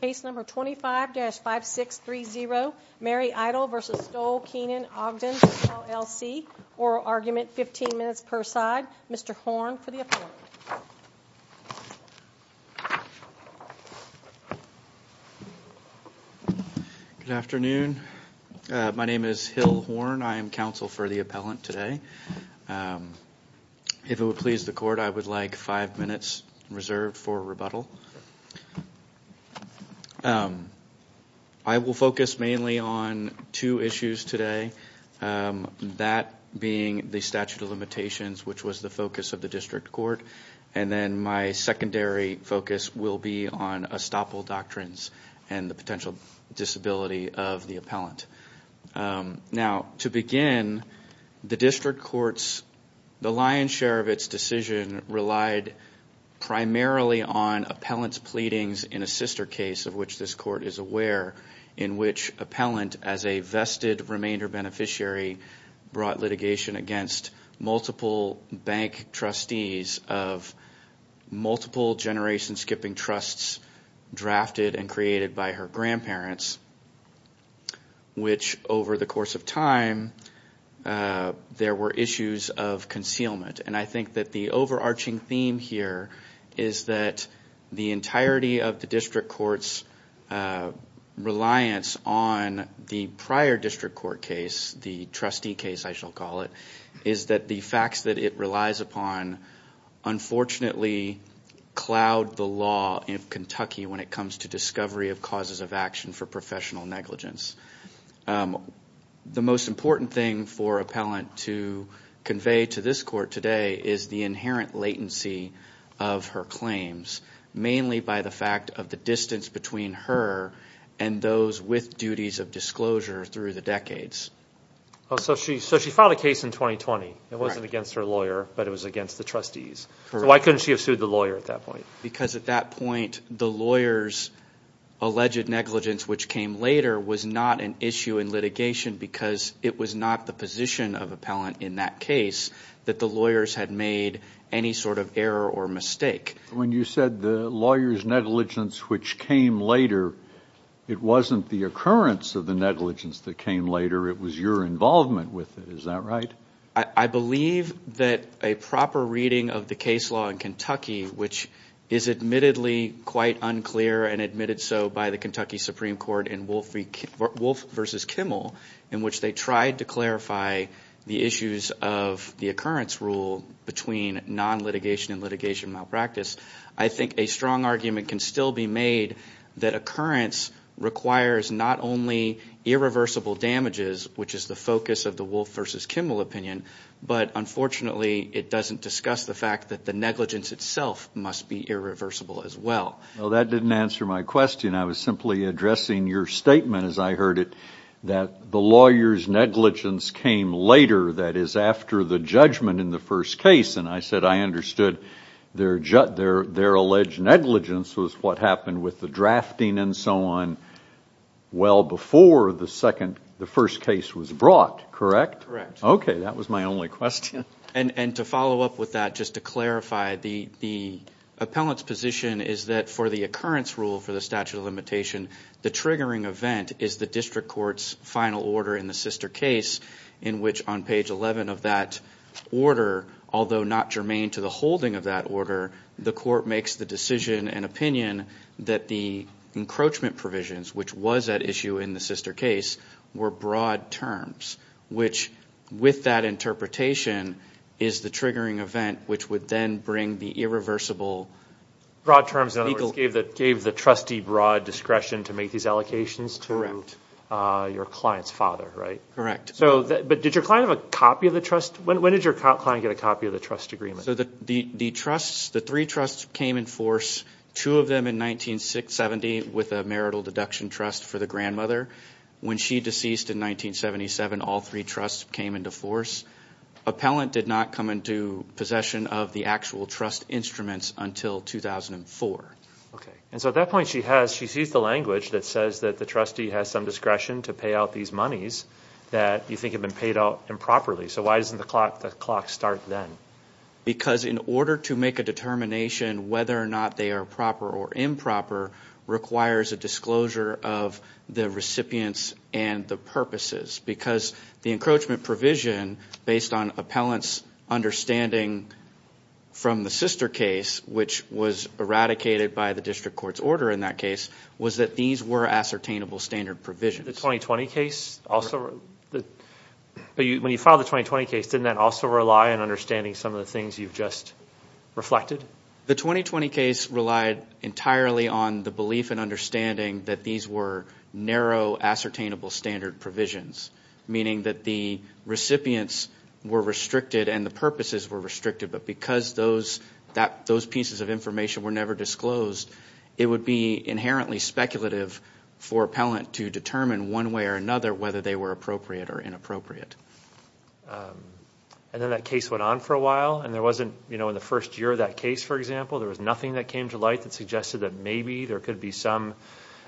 Case number 25-5630 Mary Eitel v. Stoll Keenon Ogden PLLC Oral argument 15 minutes per side. Mr. Horn for the appellant. Good afternoon. My name is Hill Horn. I am counsel for the appellant today. If it would please the court, I would like five minutes reserved for rebuttal. I will focus mainly on two issues today, that being the statute of limitations, which was the focus of the district court. And then my secondary focus will be on estoppel doctrines and the potential disability of the appellant. Now, to begin, the district court's, the lion's share of its decision relied primarily on appellant's pleadings in a sister case, of which this court is aware, in which appellant, as a vested remainder beneficiary, brought litigation against multiple bank trustees of multiple generation skipping trusts drafted and created by her grandparents. Which over the course of time, there were issues of concealment. And I think that the overarching theme here is that the entirety of the district court's reliance on the prior district court case, the trustee case, I shall call it, is that the facts that it relies upon, unfortunately cloud the law in Kentucky when it comes to discovery of causes of action for professional negligence. The most important thing for appellant to convey to this court today is the inherent latency of her claims, mainly by the fact of the distance between her and those with duties of disclosure through the decades. So she filed a case in 2020. It wasn't against her lawyer, but it was against the trustees. So why couldn't she have sued the lawyer at that point? Because at that point, the lawyer's alleged negligence, which came later, was not an issue in litigation because it was not the position of appellant in that case that the lawyers had made any sort of error or mistake. When you said the lawyer's negligence, which came later, it wasn't the occurrence of the negligence that came later. It was your involvement with it. Is that right? I believe that a proper reading of the case law in Kentucky, which is admittedly quite unclear and admitted so by the Kentucky Supreme Court in Wolf v. Kimmel, in which they tried to clarify the issues of the occurrence rule between non-litigation and litigation malpractice, I think a strong argument can still be made that occurrence requires not only irreversible damages, which is the focus of the Wolf v. Kimmel opinion, but unfortunately it doesn't discuss the fact that the negligence itself must be irreversible as well. Well, that didn't answer my question. I was simply addressing your statement, as I heard it, that the lawyer's negligence came later, that is, after the judgment in the first case. And I said I understood their alleged negligence was what happened with the drafting and so on well before the first case was brought, correct? Correct. Okay, that was my only question. And to follow up with that, just to clarify, the appellant's position is that for the occurrence rule for the statute of limitation, the triggering event is the district court's final order in the sister case, in which on page 11 of that order, although not germane to the holding of that order, the court makes the decision and opinion that the encroachment provisions, which was at issue in the sister case, were broad terms, which with that interpretation is the triggering event which would then bring the irreversible. Broad terms, in other words, gave the trustee broad discretion to make these allocations to your client's father, right? Correct. But did your client have a copy of the trust? When did your client get a copy of the trust agreement? So the trusts, the three trusts came in force, two of them in 1970 with a marital deduction trust for the grandmother. When she deceased in 1977, all three trusts came into force. Appellant did not come into possession of the actual trust instruments until 2004. Okay. And so at that point, she sees the language that says that the trustee has some discretion to pay out these monies that you think have been paid out improperly. So why doesn't the clock start then? Because in order to make a determination whether or not they are proper or improper requires a disclosure of the recipients and the purposes because the encroachment provision, based on appellant's understanding from the sister case, which was eradicated by the district court's order in that case, was that these were ascertainable standard provisions. The 2020 case also? When you filed the 2020 case, didn't that also rely on understanding some of the things you've just reflected? The 2020 case relied entirely on the belief and understanding that these were narrow, ascertainable standard provisions, meaning that the recipients were restricted and the purposes were restricted, but because those pieces of information were never disclosed, it would be inherently speculative for appellant to determine one way or another whether they were appropriate or inappropriate. And then that case went on for a while, and there wasn't, you know, in the first year of that case, for example, there was nothing that came to light that suggested that maybe there could be some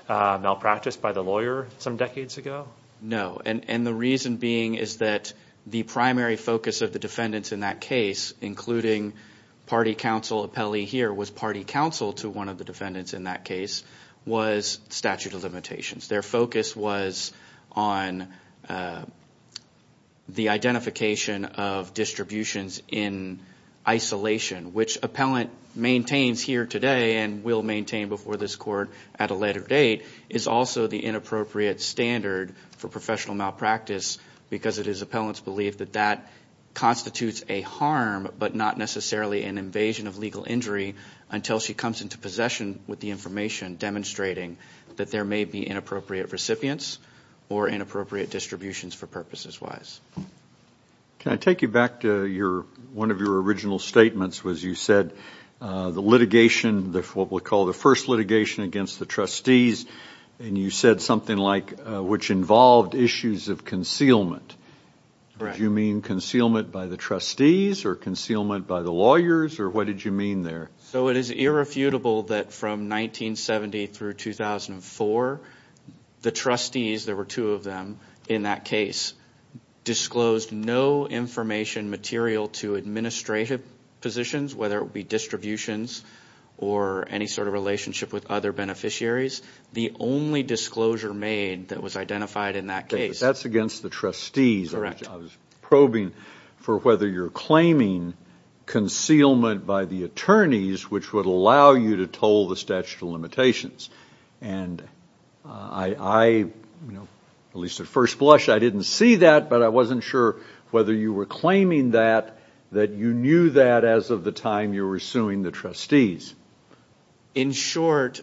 malpractice by the lawyer some decades ago? No, and the reason being is that the primary focus of the defendants in that case, including party counsel appellee here was party counsel to one of the defendants in that case, was statute of limitations. Their focus was on the identification of distributions in isolation, which appellant maintains here today and will maintain before this court at a later date, is also the inappropriate standard for professional malpractice because it is appellant's belief that that constitutes a harm, but not necessarily an invasion of legal injury until she comes into possession with the information demonstrating that there may be inappropriate recipients or inappropriate distributions for purposes wise. Can I take you back to one of your original statements was you said the litigation, what we call the first litigation against the trustees, and you said something like, which involved issues of concealment. Did you mean concealment by the trustees or concealment by the lawyers, or what did you mean there? So it is irrefutable that from 1970 through 2004, the trustees, there were two of them in that case, disclosed no information material to administrative positions, whether it be distributions or any sort of relationship with other beneficiaries. The only disclosure made that was identified in that case. That's against the trustees. Correct. I was probing for whether you're claiming concealment by the attorneys, which would allow you to toll the statute of limitations. And I, at least at first blush, I didn't see that, but I wasn't sure whether you were claiming that, that you knew that as of the time you were suing the trustees. In short,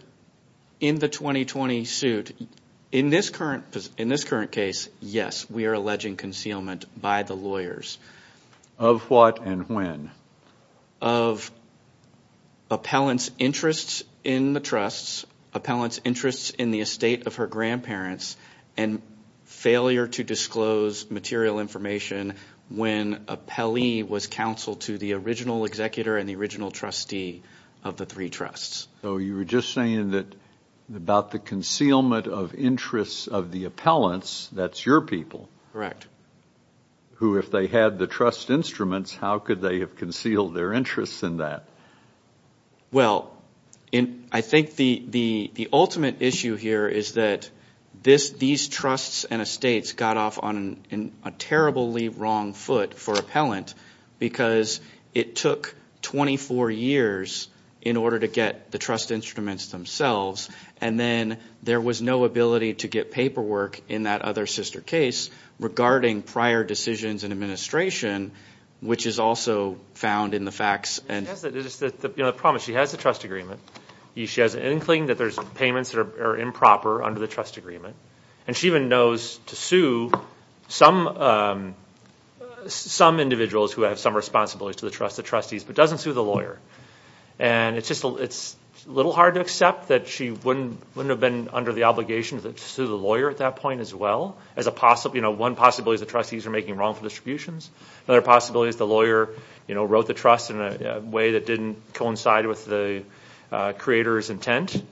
in the 2020 suit, in this current case, yes, we are alleging concealment by the lawyers. Of what and when? Of appellant's interests in the trusts, appellant's interests in the estate of her grandparents, and failure to disclose material information when appellee was counseled to the original executor and the original trustee of the three trusts. So you were just saying that about the concealment of interests of the appellants, that's your people. Correct. Who, if they had the trust instruments, how could they have concealed their interests in that? Well, I think the ultimate issue here is that these trusts and estates got off on a terribly wrong foot for appellant because it took 24 years in order to get the trust instruments themselves, and then there was no ability to get paperwork in that other sister case regarding prior decisions and administration, which is also found in the facts. The problem is she has a trust agreement. She has an inkling that there's payments that are improper under the trust agreement, and she even knows to sue some individuals who have some responsibilities to the trust, the trustees, but doesn't sue the lawyer. And it's a little hard to accept that she wouldn't have been under the obligation to sue the lawyer at that point as well. One possibility is the trustees are making wrongful distributions. Another possibility is the lawyer wrote the trust in a way that didn't coincide with the creator's intent.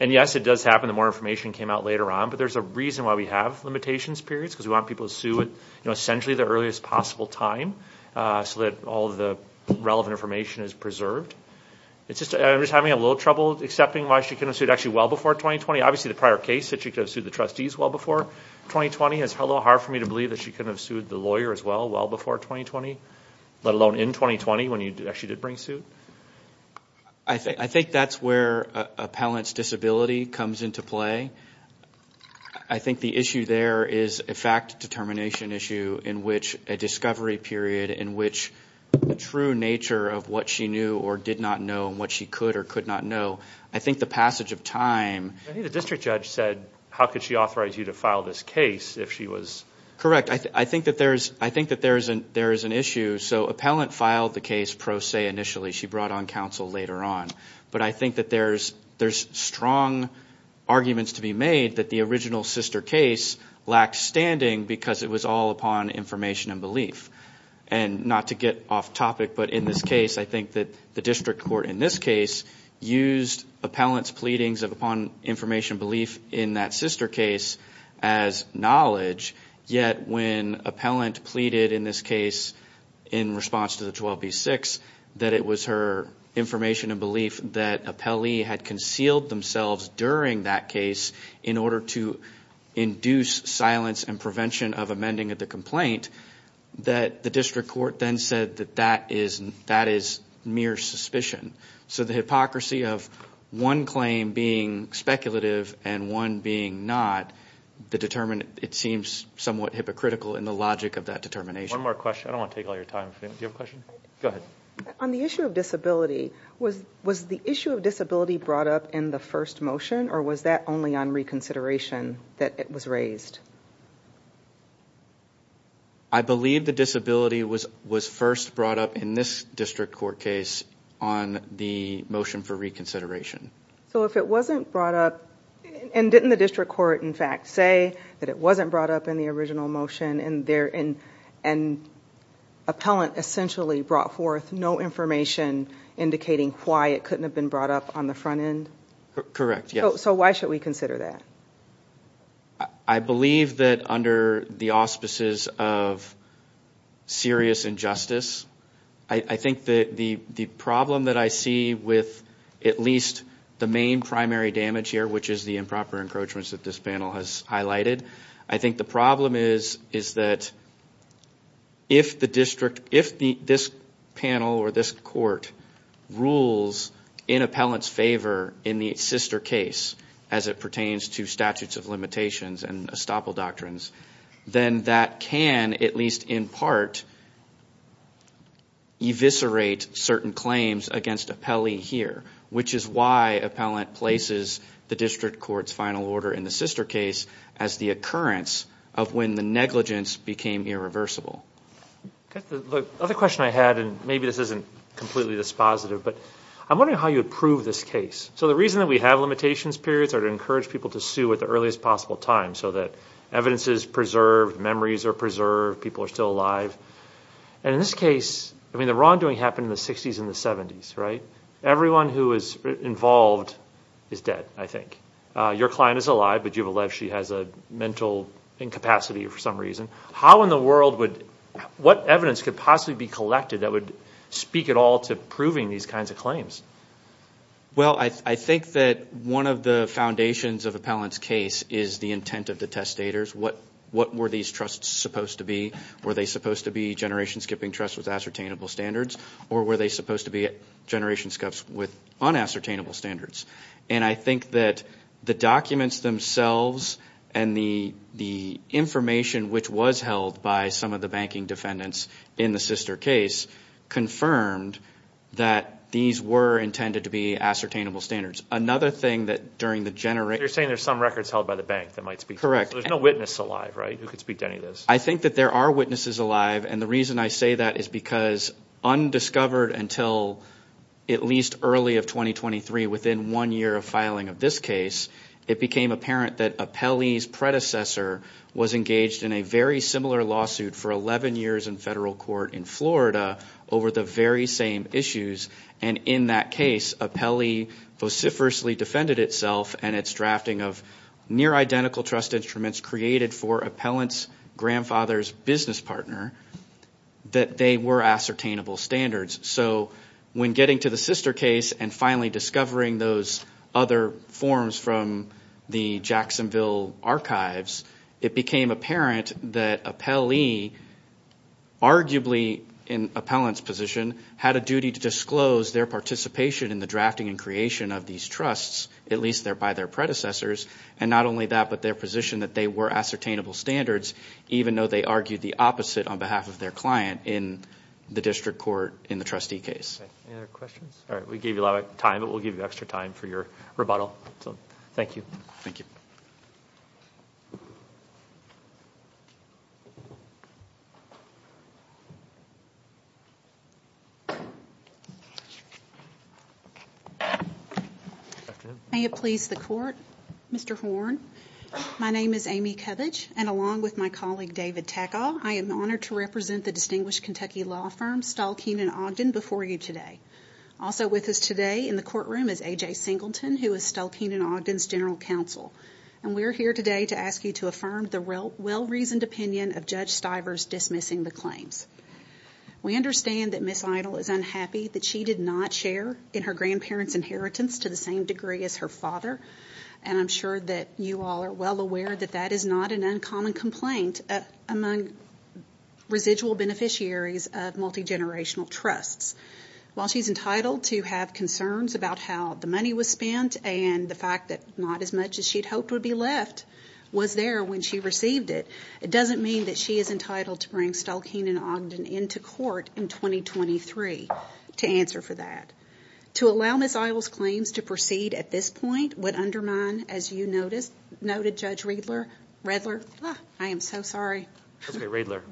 And, yes, it does happen that more information came out later on, but there's a reason why we have limitations periods because we want people to sue at essentially the earliest possible time so that all the relevant information is preserved. I'm just having a little trouble accepting why she couldn't have sued actually well before 2020. Obviously, the prior case that she could have sued the trustees well before 2020, it's a little hard for me to believe that she couldn't have sued the lawyer as well well before 2020, let alone in 2020 when she did bring suit. I think that's where appellant's disability comes into play. I think the issue there is a fact determination issue in which a discovery period in which the true nature of what she knew or did not know and what she could or could not know. I think the passage of time. I think the district judge said how could she authorize you to file this case if she was. Correct. I think that there is an issue. So appellant filed the case pro se initially. She brought on counsel later on. But I think that there's strong arguments to be made that the original sister case lacked standing because it was all upon information and belief. And not to get off topic, but in this case, I think that the district court in this case used appellant's pleadings upon information and belief in that sister case as knowledge, yet when appellant pleaded in this case in response to the 12B6, that it was her information and belief that appellee had concealed themselves during that case in order to induce silence and prevention of amending of the complaint, that the district court then said that that is mere suspicion. So the hypocrisy of one claim being speculative and one being not, it seems somewhat hypocritical in the logic of that determination. One more question. I don't want to take all your time. Do you have a question? Go ahead. On the issue of disability, was the issue of disability brought up in the first motion or was that only on reconsideration that it was raised? I believe the disability was first brought up in this district court case on the motion for reconsideration. So if it wasn't brought up, and didn't the district court in fact say that it wasn't brought up in the original motion and appellant essentially brought forth no information indicating why it couldn't have been brought up on the front end? Correct, yes. So why should we consider that? I believe that under the auspices of serious injustice, I think that the problem that I see with at least the main primary damage here, which is the improper encroachments that this panel has highlighted, I think the problem is that if this panel or this court rules in appellant's favor in the sister case as it pertains to statutes of limitations and estoppel doctrines, then that can at least in part eviscerate certain claims against appellee here, which is why appellant places the district court's final order in the sister case as the occurrence of when the negligence became irreversible. The other question I had, and maybe this isn't completely dispositive, but I'm wondering how you would prove this case. So the reason that we have limitations periods are to encourage people to sue at the earliest possible time so that evidence is preserved, memories are preserved, people are still alive. And in this case, I mean the wrongdoing happened in the 60s and the 70s, right? Everyone who is involved is dead, I think. Your client is alive, but you have alleged she has a mental incapacity for some reason. How in the world would – what evidence could possibly be collected that would speak at all to proving these kinds of claims? Well, I think that one of the foundations of appellant's case is the intent of the testators. What were these trusts supposed to be? Were they supposed to be generation-skipping trusts with ascertainable standards, or were they supposed to be generation-skips with unascertainable standards? And I think that the documents themselves and the information which was held by some of the banking defendants in the sister case confirmed that these were intended to be ascertainable standards. Another thing that during the – You're saying there's some records held by the bank that might speak to this. Correct. So there's no witness alive, right? Who could speak to any of this? I think that there are witnesses alive, and the reason I say that is because undiscovered until at least early of 2023, within one year of filing of this case, it became apparent that Apelli's predecessor was engaged in a very similar lawsuit for 11 years in federal court in Florida over the very same issues. And in that case, Apelli vociferously defended itself and its drafting of near-identical trust instruments created for Appellant's grandfather's business partner that they were ascertainable standards. So when getting to the sister case and finally discovering those other forms from the Jacksonville archives, it became apparent that Apelli, arguably in Appellant's position, had a duty to disclose their participation in the drafting and creation of these trusts, at least by their predecessors. And not only that, but their position that they were ascertainable standards, even though they argued the opposite on behalf of their client in the district court in the trustee case. Any other questions? All right. We gave you a lot of time, but we'll give you extra time for your rebuttal. Thank you. Thank you. May it please the court. Mr. Horne, my name is Amy Kovach, and along with my colleague David Tackaw, I am honored to represent the distinguished Kentucky law firm Stahl-Keenan-Ogden before you today. Also with us today in the courtroom is A.J. Singleton, who is Stahl-Keenan-Ogden's general counsel. And we are here today to ask you to affirm the well-reasoned opinion of Judge Stivers dismissing the claims. We understand that Ms. Idle is unhappy that she did not share in her grandparents' inheritance to the same degree as her father. And I'm sure that you all are well aware that that is not an uncommon complaint among residual beneficiaries of multigenerational trusts. While she's entitled to have concerns about how the money was spent and the fact that not as much as she'd hoped would be left was there when she received it, it doesn't mean that she is entitled to bring Stahl-Keenan-Ogden into court in 2023 to answer for that. To allow Ms. Idle's claims to proceed at this point would undermine, as you noted, Judge Redler, I am so sorry. Okay, Redler.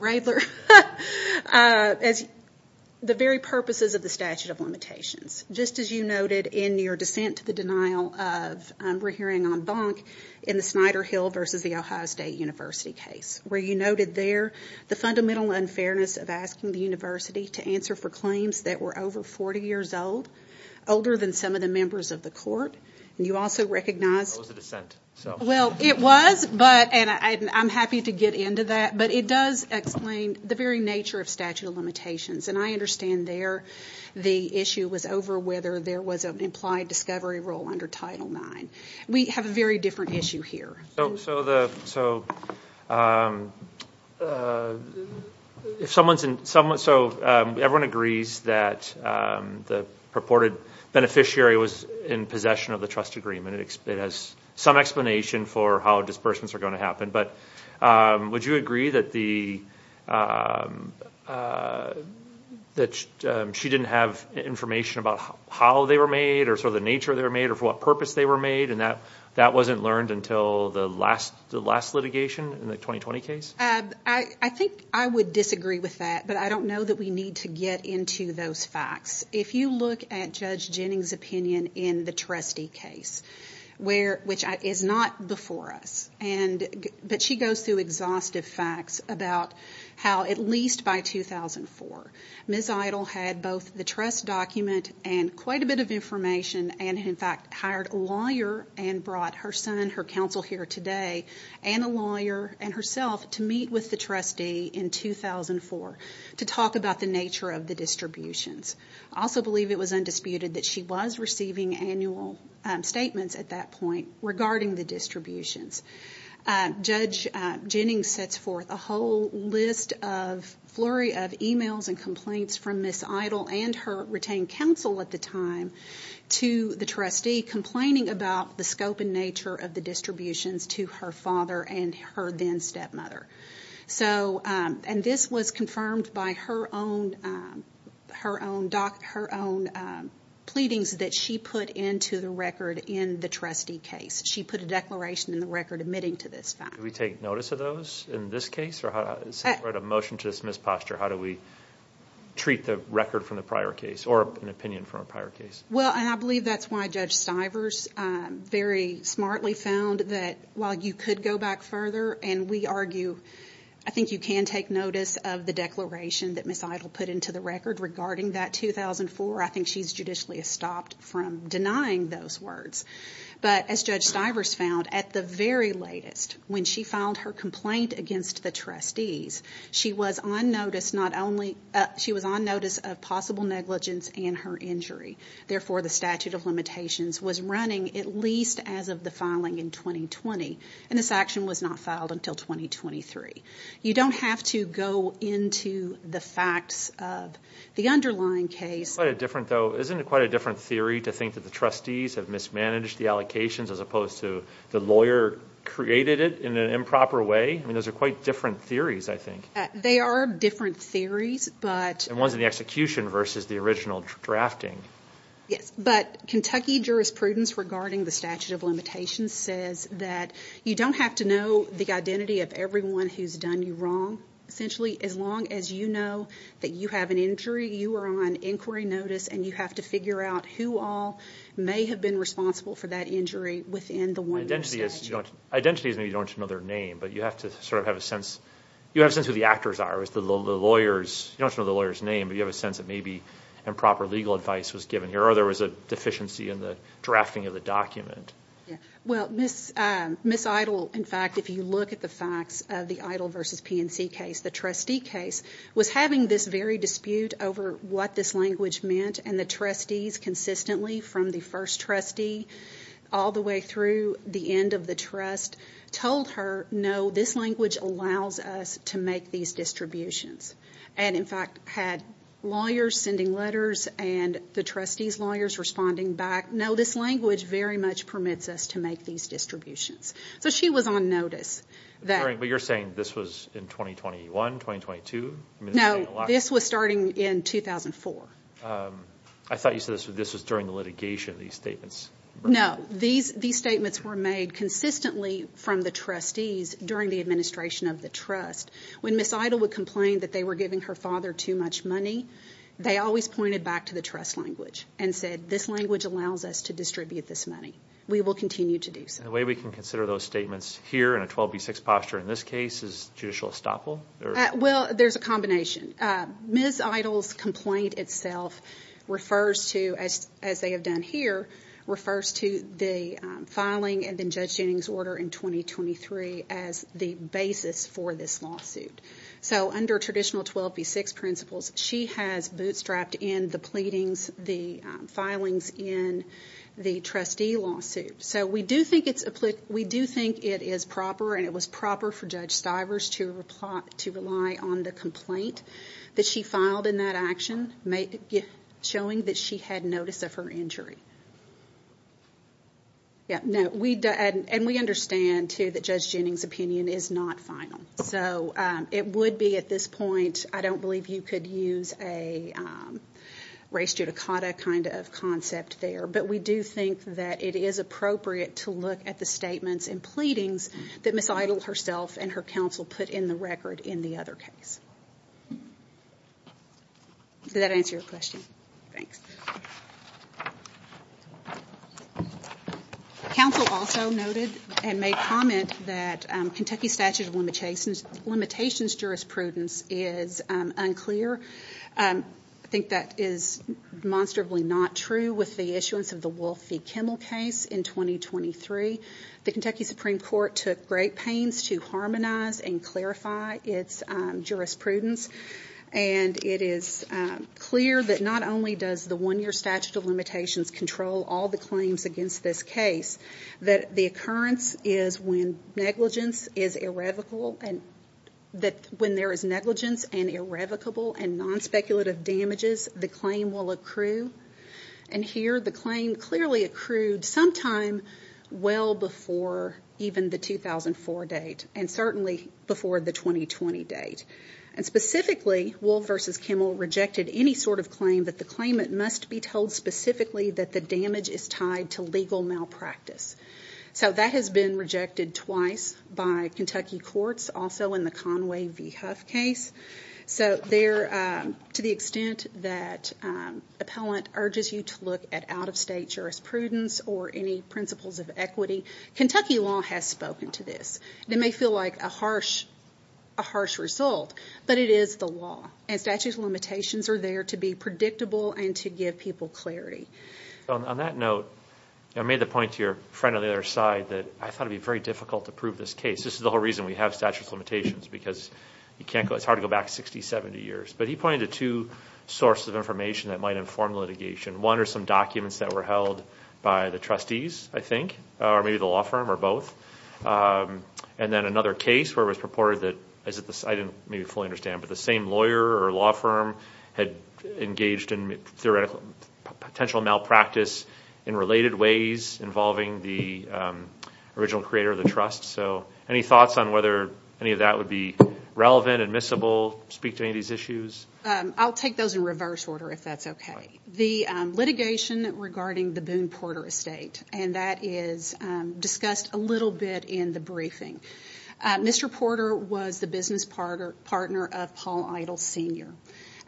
The very purposes of the statute of limitations. Just as you noted in your dissent to the denial of, we're hearing on Bonk, in the Snyder Hill versus the Ohio State University case, where you noted there the fundamental unfairness of asking the university to answer for claims that were over 40 years old, older than some of the members of the court. And you also recognized... That was a dissent, so... Well, it was, but, and I'm happy to get into that. But it does explain the very nature of statute of limitations. And I understand there the issue was over whether there was an implied discovery rule under Title IX. We have a very different issue here. So the... If someone's in... So everyone agrees that the purported beneficiary was in possession of the trust agreement. It has some explanation for how disbursements are going to happen. But would you agree that the... She didn't have information about how they were made, or sort of the nature they were made, or for what purpose they were made? And that wasn't learned until the last litigation in the 2020 case? I think I would disagree with that. But I don't know that we need to get into those facts. If you look at Judge Jennings' opinion in the trustee case, which is not before us, but she goes through exhaustive facts about how, at least by 2004, Ms. Idle had both the trust document and quite a bit of information, and in fact hired a lawyer and brought her son, her counsel here today, and a lawyer and herself to meet with the trustee in 2004 to talk about the nature of the distributions. I also believe it was undisputed that she was receiving annual statements at that point regarding the distributions. Judge Jennings sets forth a whole list of, a flurry of e-mails and complaints from Ms. Idle and her retained counsel at the time to the trustee complaining about the scope and nature of the distributions to her father and her then stepmother. So, and this was confirmed by her own pleadings that she put into the record in the trustee case. She put a declaration in the record admitting to this fact. Did we take notice of those in this case? Since we're at a motion to dismiss posture, how do we treat the record from the prior case or an opinion from a prior case? Well, and I believe that's why Judge Stivers very smartly found that while you could go back further, and we argue, I think you can take notice of the declaration that Ms. Idle put into the record regarding that 2004, I think she's judicially stopped from denying those words. But as Judge Stivers found, at the very latest, when she filed her complaint against the trustees, she was on notice of possible negligence and her injury. Therefore, the statute of limitations was running at least as of the filing in 2020, and this action was not filed until 2023. You don't have to go into the facts of the underlying case. Isn't it quite a different theory to think that the trustees have mismanaged the allocations as opposed to the lawyer created it in an improper way? I mean, those are quite different theories, I think. They are different theories, but... The ones in the execution versus the original drafting. Yes, but Kentucky jurisprudence regarding the statute of limitations says that you don't have to know the identity of everyone who's done you wrong, essentially. As long as you know that you have an injury, you are on inquiry notice, and you have to figure out who all may have been responsible for that injury within the one year statute. Identity is when you don't know their name, but you have to sort of have a sense. You have a sense of who the actors are. You don't know the lawyer's name, but you have a sense that maybe improper legal advice was given here or there was a deficiency in the drafting of the document. Well, Ms. Idle, in fact, if you look at the facts of the Idle versus PNC case, the trustee case was having this very dispute over what this language meant, and the trustees consistently from the first trustee all the way through the end of the trust told her, no, this language allows us to make these distributions. And, in fact, had lawyers sending letters and the trustees' lawyers responding back, no, this language very much permits us to make these distributions. So she was on notice. But you're saying this was in 2021, 2022? No, this was starting in 2004. I thought you said this was during the litigation, these statements. No, these statements were made consistently from the trustees during the administration of the trust. When Ms. Idle would complain that they were giving her father too much money, they always pointed back to the trust language and said, this language allows us to distribute this money. We will continue to do so. And the way we can consider those statements here in a 12B6 posture in this case is judicial estoppel? Well, there's a combination. Ms. Idle's complaint itself refers to, as they have done here, refers to the filing and then Judge Jennings' order in 2023 as the basis for this lawsuit. So under traditional 12B6 principles, she has bootstrapped in the pleadings, the filings in the trustee lawsuit. So we do think it is proper and it was proper for Judge Stivers to rely on the complaint that she filed in that action, showing that she had notice of her injury. And we understand, too, that Judge Jennings' opinion is not final. So it would be at this point, I don't believe you could use a race judicata kind of concept there, but we do think that it is appropriate to look at the statements and pleadings that Ms. Idle herself and her counsel put in the record in the other case. Does that answer your question? Thanks. Counsel also noted and made comment that Kentucky statute of limitations jurisprudence is unclear. I think that is demonstrably not true with the issuance of the Wolf v. Kimmel case in 2023. The Kentucky Supreme Court took great pains to harmonize and clarify its jurisprudence, and it is clear that not only does the one-year statute of limitations control all the claims against this case, that the occurrence is when negligence is irrevocable and non-speculative damages, the claim will accrue. And here the claim clearly accrued sometime well before even the 2004 date and certainly before the 2020 date. And specifically, Wolf v. Kimmel rejected any sort of claim that the claimant must be told specifically that the damage is tied to legal malpractice. So that has been rejected twice by Kentucky courts, also in the Conway v. Huff case. So to the extent that appellant urges you to look at out-of-state jurisprudence or any principles of equity, Kentucky law has spoken to this. It may feel like a harsh result, but it is the law. And statutes of limitations are there to be predictable and to give people clarity. On that note, I made the point to your friend on the other side that I thought it would be very difficult to prove this case. This is the whole reason we have statutes of limitations, because it's hard to go back 60, 70 years. But he pointed to two sources of information that might inform litigation. One are some documents that were held by the trustees, I think, or maybe the law firm or both. And then another case where it was purported that the same lawyer or law firm had engaged in potential malpractice in related ways involving the original creator of the trust. So any thoughts on whether any of that would be relevant, admissible, speak to any of these issues? I'll take those in reverse order, if that's okay. The litigation regarding the Boone Porter estate, and that is discussed a little bit in the briefing. Mr. Porter was the business partner of Paul Idle Sr.,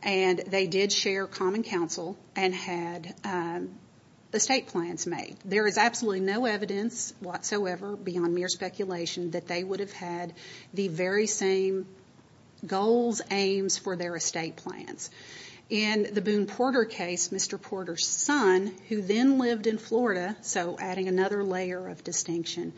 and they did share common counsel and had estate plans made. There is absolutely no evidence whatsoever beyond mere speculation that they would have had the very same goals, aims for their estate plans. In the Boone Porter case, Mr. Porter's son, who then lived in Florida, so adding another layer of distinction,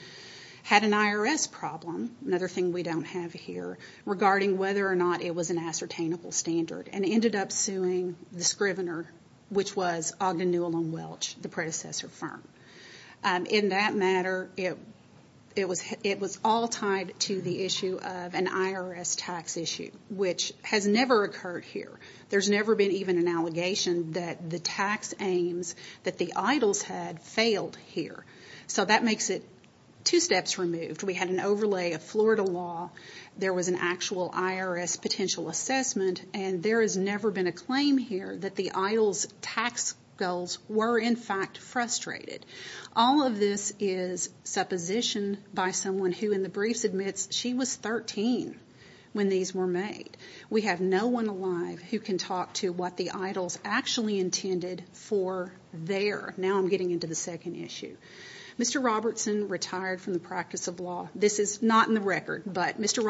had an IRS problem, another thing we don't have here, regarding whether or not it was an ascertainable standard, and ended up suing the scrivener, which was Ogden Newell & Welch, the predecessor firm. In that matter, it was all tied to the issue of an IRS tax issue, which has never occurred here. There's never been even an allegation that the tax aims that the Idles had failed here. So that makes it two steps removed. We had an overlay of Florida law. There was an actual IRS potential assessment, and there has never been a claim here that the Idles' tax goals were, in fact, frustrated. All of this is supposition by someone who, in the briefs, admits she was 13 when these were made. We have no one alive who can talk to what the Idles actually intended for there. Now I'm getting into the second issue. Mr. Robertson retired from the practice of law. This is not in the record, but Mr.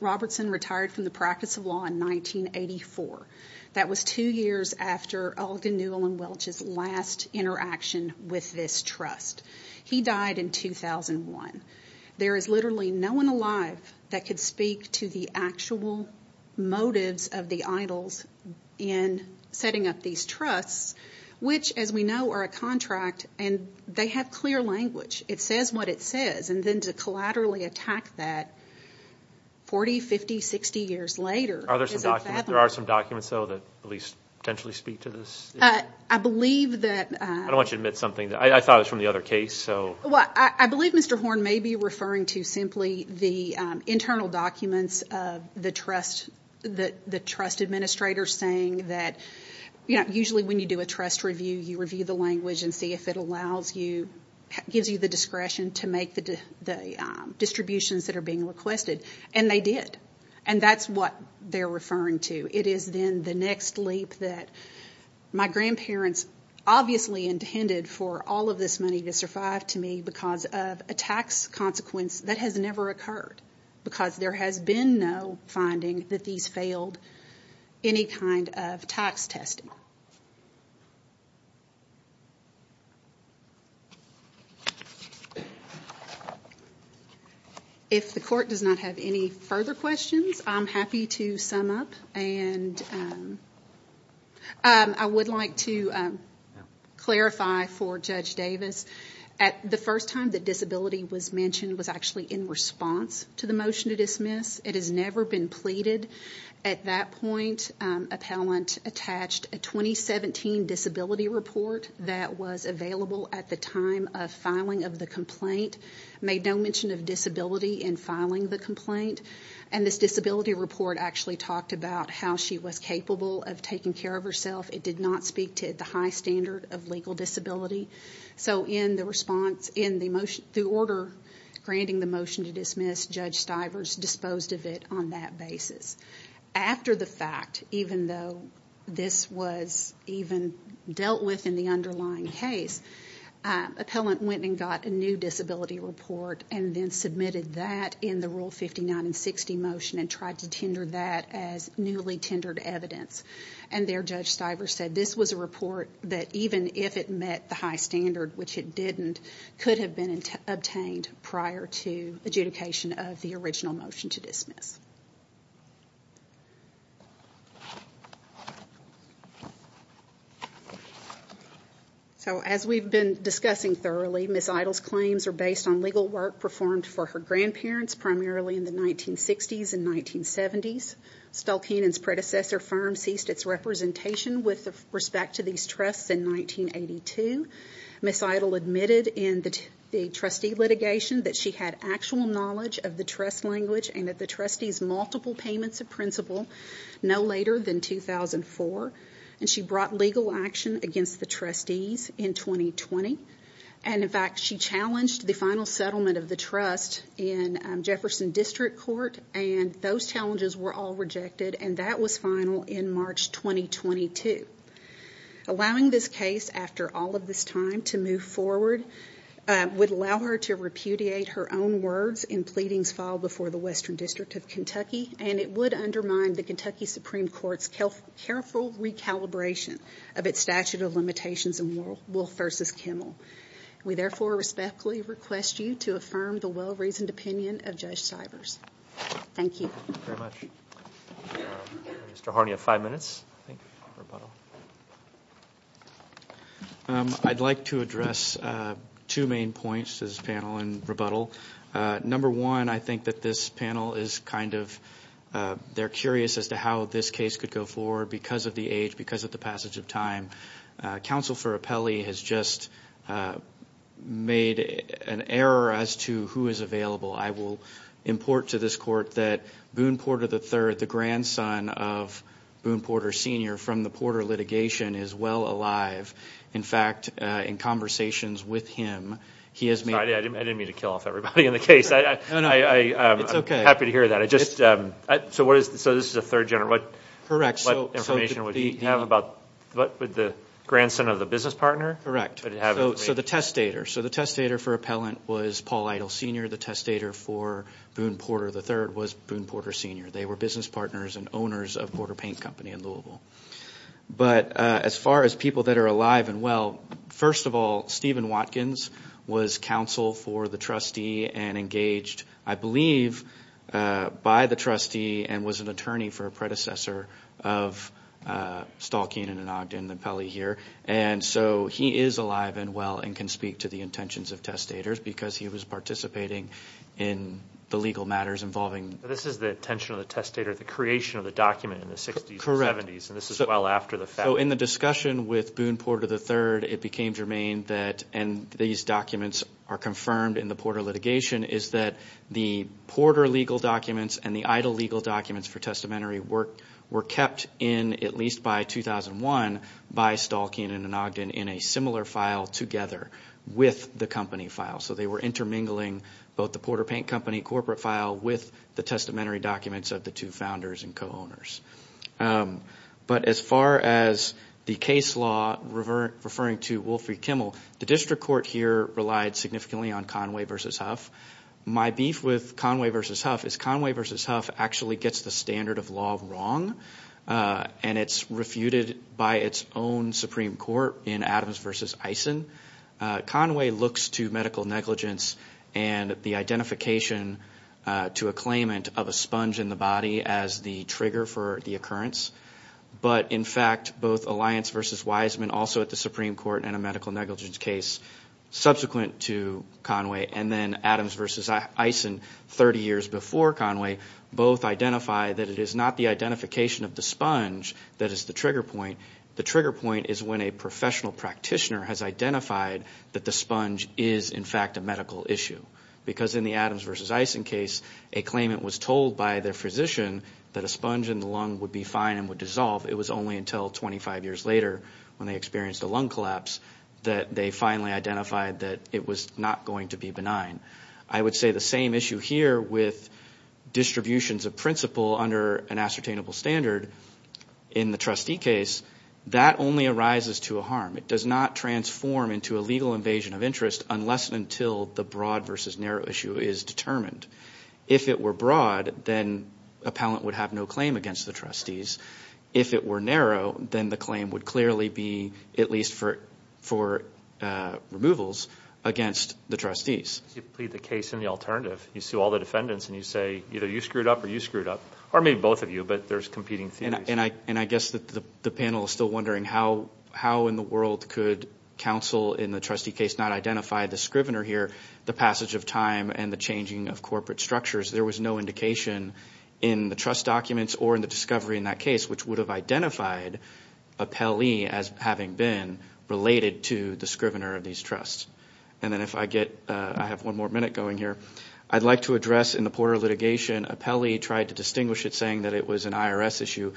Robertson retired from the practice of law in 1984. That was two years after Ogden Newell & Welch's last interaction with this trust. He died in 2001. There is literally no one alive that could speak to the actual motives of the Idles in setting up these trusts, which, as we know, are a contract, and they have clear language. It says what it says, and then to collaterally attack that 40, 50, 60 years later is unfathomable. Are there some documents, though, that at least potentially speak to this issue? I believe that— I don't want you to admit something. I thought it was from the other case, so— Well, I believe Mr. Horn may be referring to simply the internal documents of the trust administrator saying that, you know, usually when you do a trust review, you review the language and see if it allows you, gives you the discretion to make the distributions that are being requested, and they did. And that's what they're referring to. It is then the next leap that my grandparents obviously intended for all of this money to survive to me because of a tax consequence that has never occurred, because there has been no finding that these failed any kind of tax testing. If the court does not have any further questions, I'm happy to sum up, and I would like to clarify for Judge Davis. The first time that disability was mentioned was actually in response to the motion to dismiss. It has never been pleaded. At that point, appellant attached a 2017 disability report that was available at the time of filing of the complaint, made no mention of disability in filing the complaint, and this disability report actually talked about how she was capable of taking care of herself. It did not speak to the high standard of legal disability. So in the order granting the motion to dismiss, Judge Stivers disposed of it on that basis. After the fact, even though this was even dealt with in the underlying case, appellant went and got a new disability report and then submitted that in the Rule 59 and 60 motion and tried to tender that as newly tendered evidence. And there, Judge Stivers said this was a report that even if it met the high standard, which it didn't, could have been obtained prior to adjudication of the original motion to dismiss. So as we've been discussing thoroughly, Ms. Idle's claims are based on legal work performed for her grandparents, primarily in the 1960s and 1970s. Stull Keenan's predecessor firm ceased its representation with respect to these trusts in 1982. Ms. Idle admitted in the trustee litigation that she had actual knowledge of the trust language and that the trustees' multiple payments of principle no later than 2004, and she brought legal action against the trustees in 2020. And in fact, she challenged the final settlement of the trust in Jefferson District Court, and those challenges were all rejected, and that was final in March 2022. Allowing this case after all of this time to move forward would allow her to repudiate her own words in pleadings filed before the Western District of Kentucky, and it would undermine the Kentucky Supreme Court's careful recalibration of its statute of limitations in Wolf v. Kimmel. We therefore respectfully request you to affirm the well-reasoned opinion of Judge Sivers. Thank you. Thank you very much. Mr. Harney, you have five minutes, I think, for rebuttal. I'd like to address two main points to this panel in rebuttal. Number one, I think that this panel is kind of curious as to how this case could go forward because of the age, because of the passage of time. Counsel for Apelli has just made an error as to who is available. I will import to this court that Boone Porter III, the grandson of Boone Porter Sr. from the Porter litigation, is well alive. In fact, in conversations with him, he has made – Sorry, I didn't mean to kill off everybody in the case. No, no, it's okay. I'm happy to hear that. So this is a third general. Correct. What information would you have about the grandson of the business partner? So the testator. So the testator for Appellant was Paul Idle Sr. The testator for Boone Porter III was Boone Porter Sr. They were business partners and owners of Porter Paint Company in Louisville. But as far as people that are alive and well, first of all, Stephen Watkins was counsel for the trustee and engaged, I believe, by the trustee and was an attorney for a predecessor of Stahlkehn and Ogden Apelli here. And so he is alive and well and can speak to the intentions of testators because he was participating in the legal matters involving – This is the intention of the testator, the creation of the document in the 60s and 70s. And this is well after the fact. So in the discussion with Boone Porter III, it became germane that – and these documents are confirmed in the Porter litigation – is that the Porter legal documents and the Idle legal documents for testamentary work were kept in, at least by 2001, by Stahlkehn and Ogden in a similar file together with the company file. So they were intermingling both the Porter Paint Company corporate file with the testamentary documents of the two founders and co-owners. But as far as the case law, referring to Wolfrey Kimmel, the district court here relied significantly on Conway v. Huff. My beef with Conway v. Huff is Conway v. Huff actually gets the standard of law wrong and it's refuted by its own Supreme Court in Adams v. Eisen. Conway looks to medical negligence and the identification to a claimant of a sponge in the body as the trigger for the occurrence. But in fact, both Alliance v. Wiseman also at the Supreme Court and a medical negligence case subsequent to Conway and then Adams v. Eisen 30 years before Conway, both identify that it is not the identification of the sponge that is the trigger point. The trigger point is when a professional practitioner has identified that the sponge is in fact a medical issue. Because in the Adams v. Eisen case, a claimant was told by their physician that a sponge in the lung would be fine and would dissolve. It was only until 25 years later when they experienced a lung collapse that they finally identified that it was not going to be benign. I would say the same issue here with distributions of principle under an ascertainable standard. In the trustee case, that only arises to a harm. It does not transform into a legal invasion of interest unless and until the broad versus narrow issue is determined. If it were broad, then a pallant would have no claim against the trustees. If it were narrow, then the claim would clearly be at least for removals against the trustees. You plead the case in the alternative. You sue all the defendants and you say either you screwed up or you screwed up or maybe both of you, but there's competing theories. I guess the panel is still wondering how in the world could counsel in the trustee case not identify the scrivener here, the passage of time and the changing of corporate structures. There was no indication in the trust documents or in the discovery in that case which would have identified a PEL-E as having been related to the scrivener of these trusts. Then if I get, I have one more minute going here. I'd like to address in the Porter litigation, a PEL-E tried to distinguish it saying that it was an IRS issue.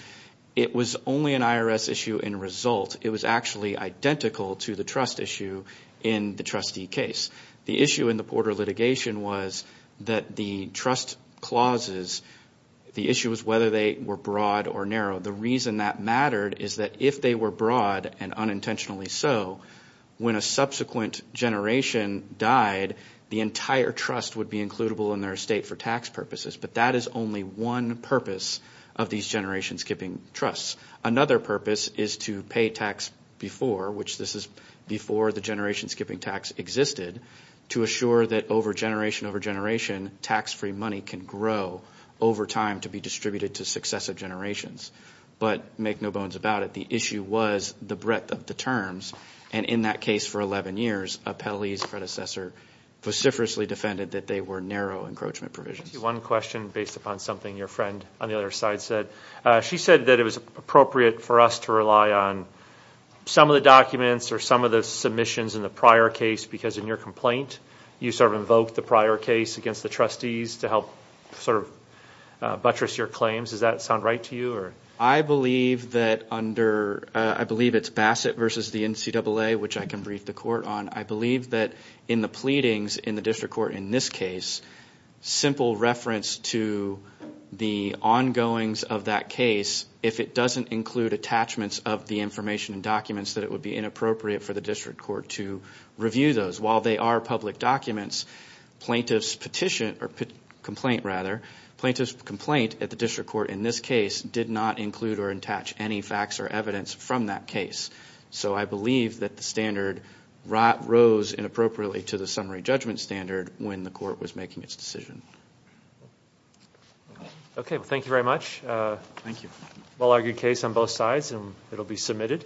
It was only an IRS issue in result. It was actually identical to the trust issue in the trustee case. The issue in the Porter litigation was that the trust clauses, the issue was whether they were broad or narrow. The reason that mattered is that if they were broad and unintentionally so, when a subsequent generation died, the entire trust would be includable in their estate for tax purposes. But that is only one purpose of these generation skipping trusts. Another purpose is to pay tax before, which this is before the generation skipping tax existed, to assure that over generation, over generation, tax-free money can grow over time to be distributed to successive generations. But make no bones about it, the issue was the breadth of the terms. And in that case for 11 years, a PEL-E's predecessor vociferously defended that they were narrow encroachment provisions. One question based upon something your friend on the other side said. She said that it was appropriate for us to rely on some of the documents or some of the submissions in the prior case, because in your complaint you sort of invoked the prior case against the trustees to help sort of buttress your claims. Does that sound right to you? I believe that under, I believe it's Bassett versus the NCAA, which I can brief the court on. I believe that in the pleadings in the district court in this case, simple reference to the ongoings of that case, if it doesn't include attachments of the information and documents, that it would be inappropriate for the district court to review those. While they are public documents, plaintiff's petition, or complaint rather, plaintiff's complaint at the district court in this case did not include or attach any facts or evidence from that case. So I believe that the standard rose inappropriately to the summary judgment standard when the court was making its decision. Okay, well thank you very much. Thank you. Well-argued case on both sides, and it will be submitted.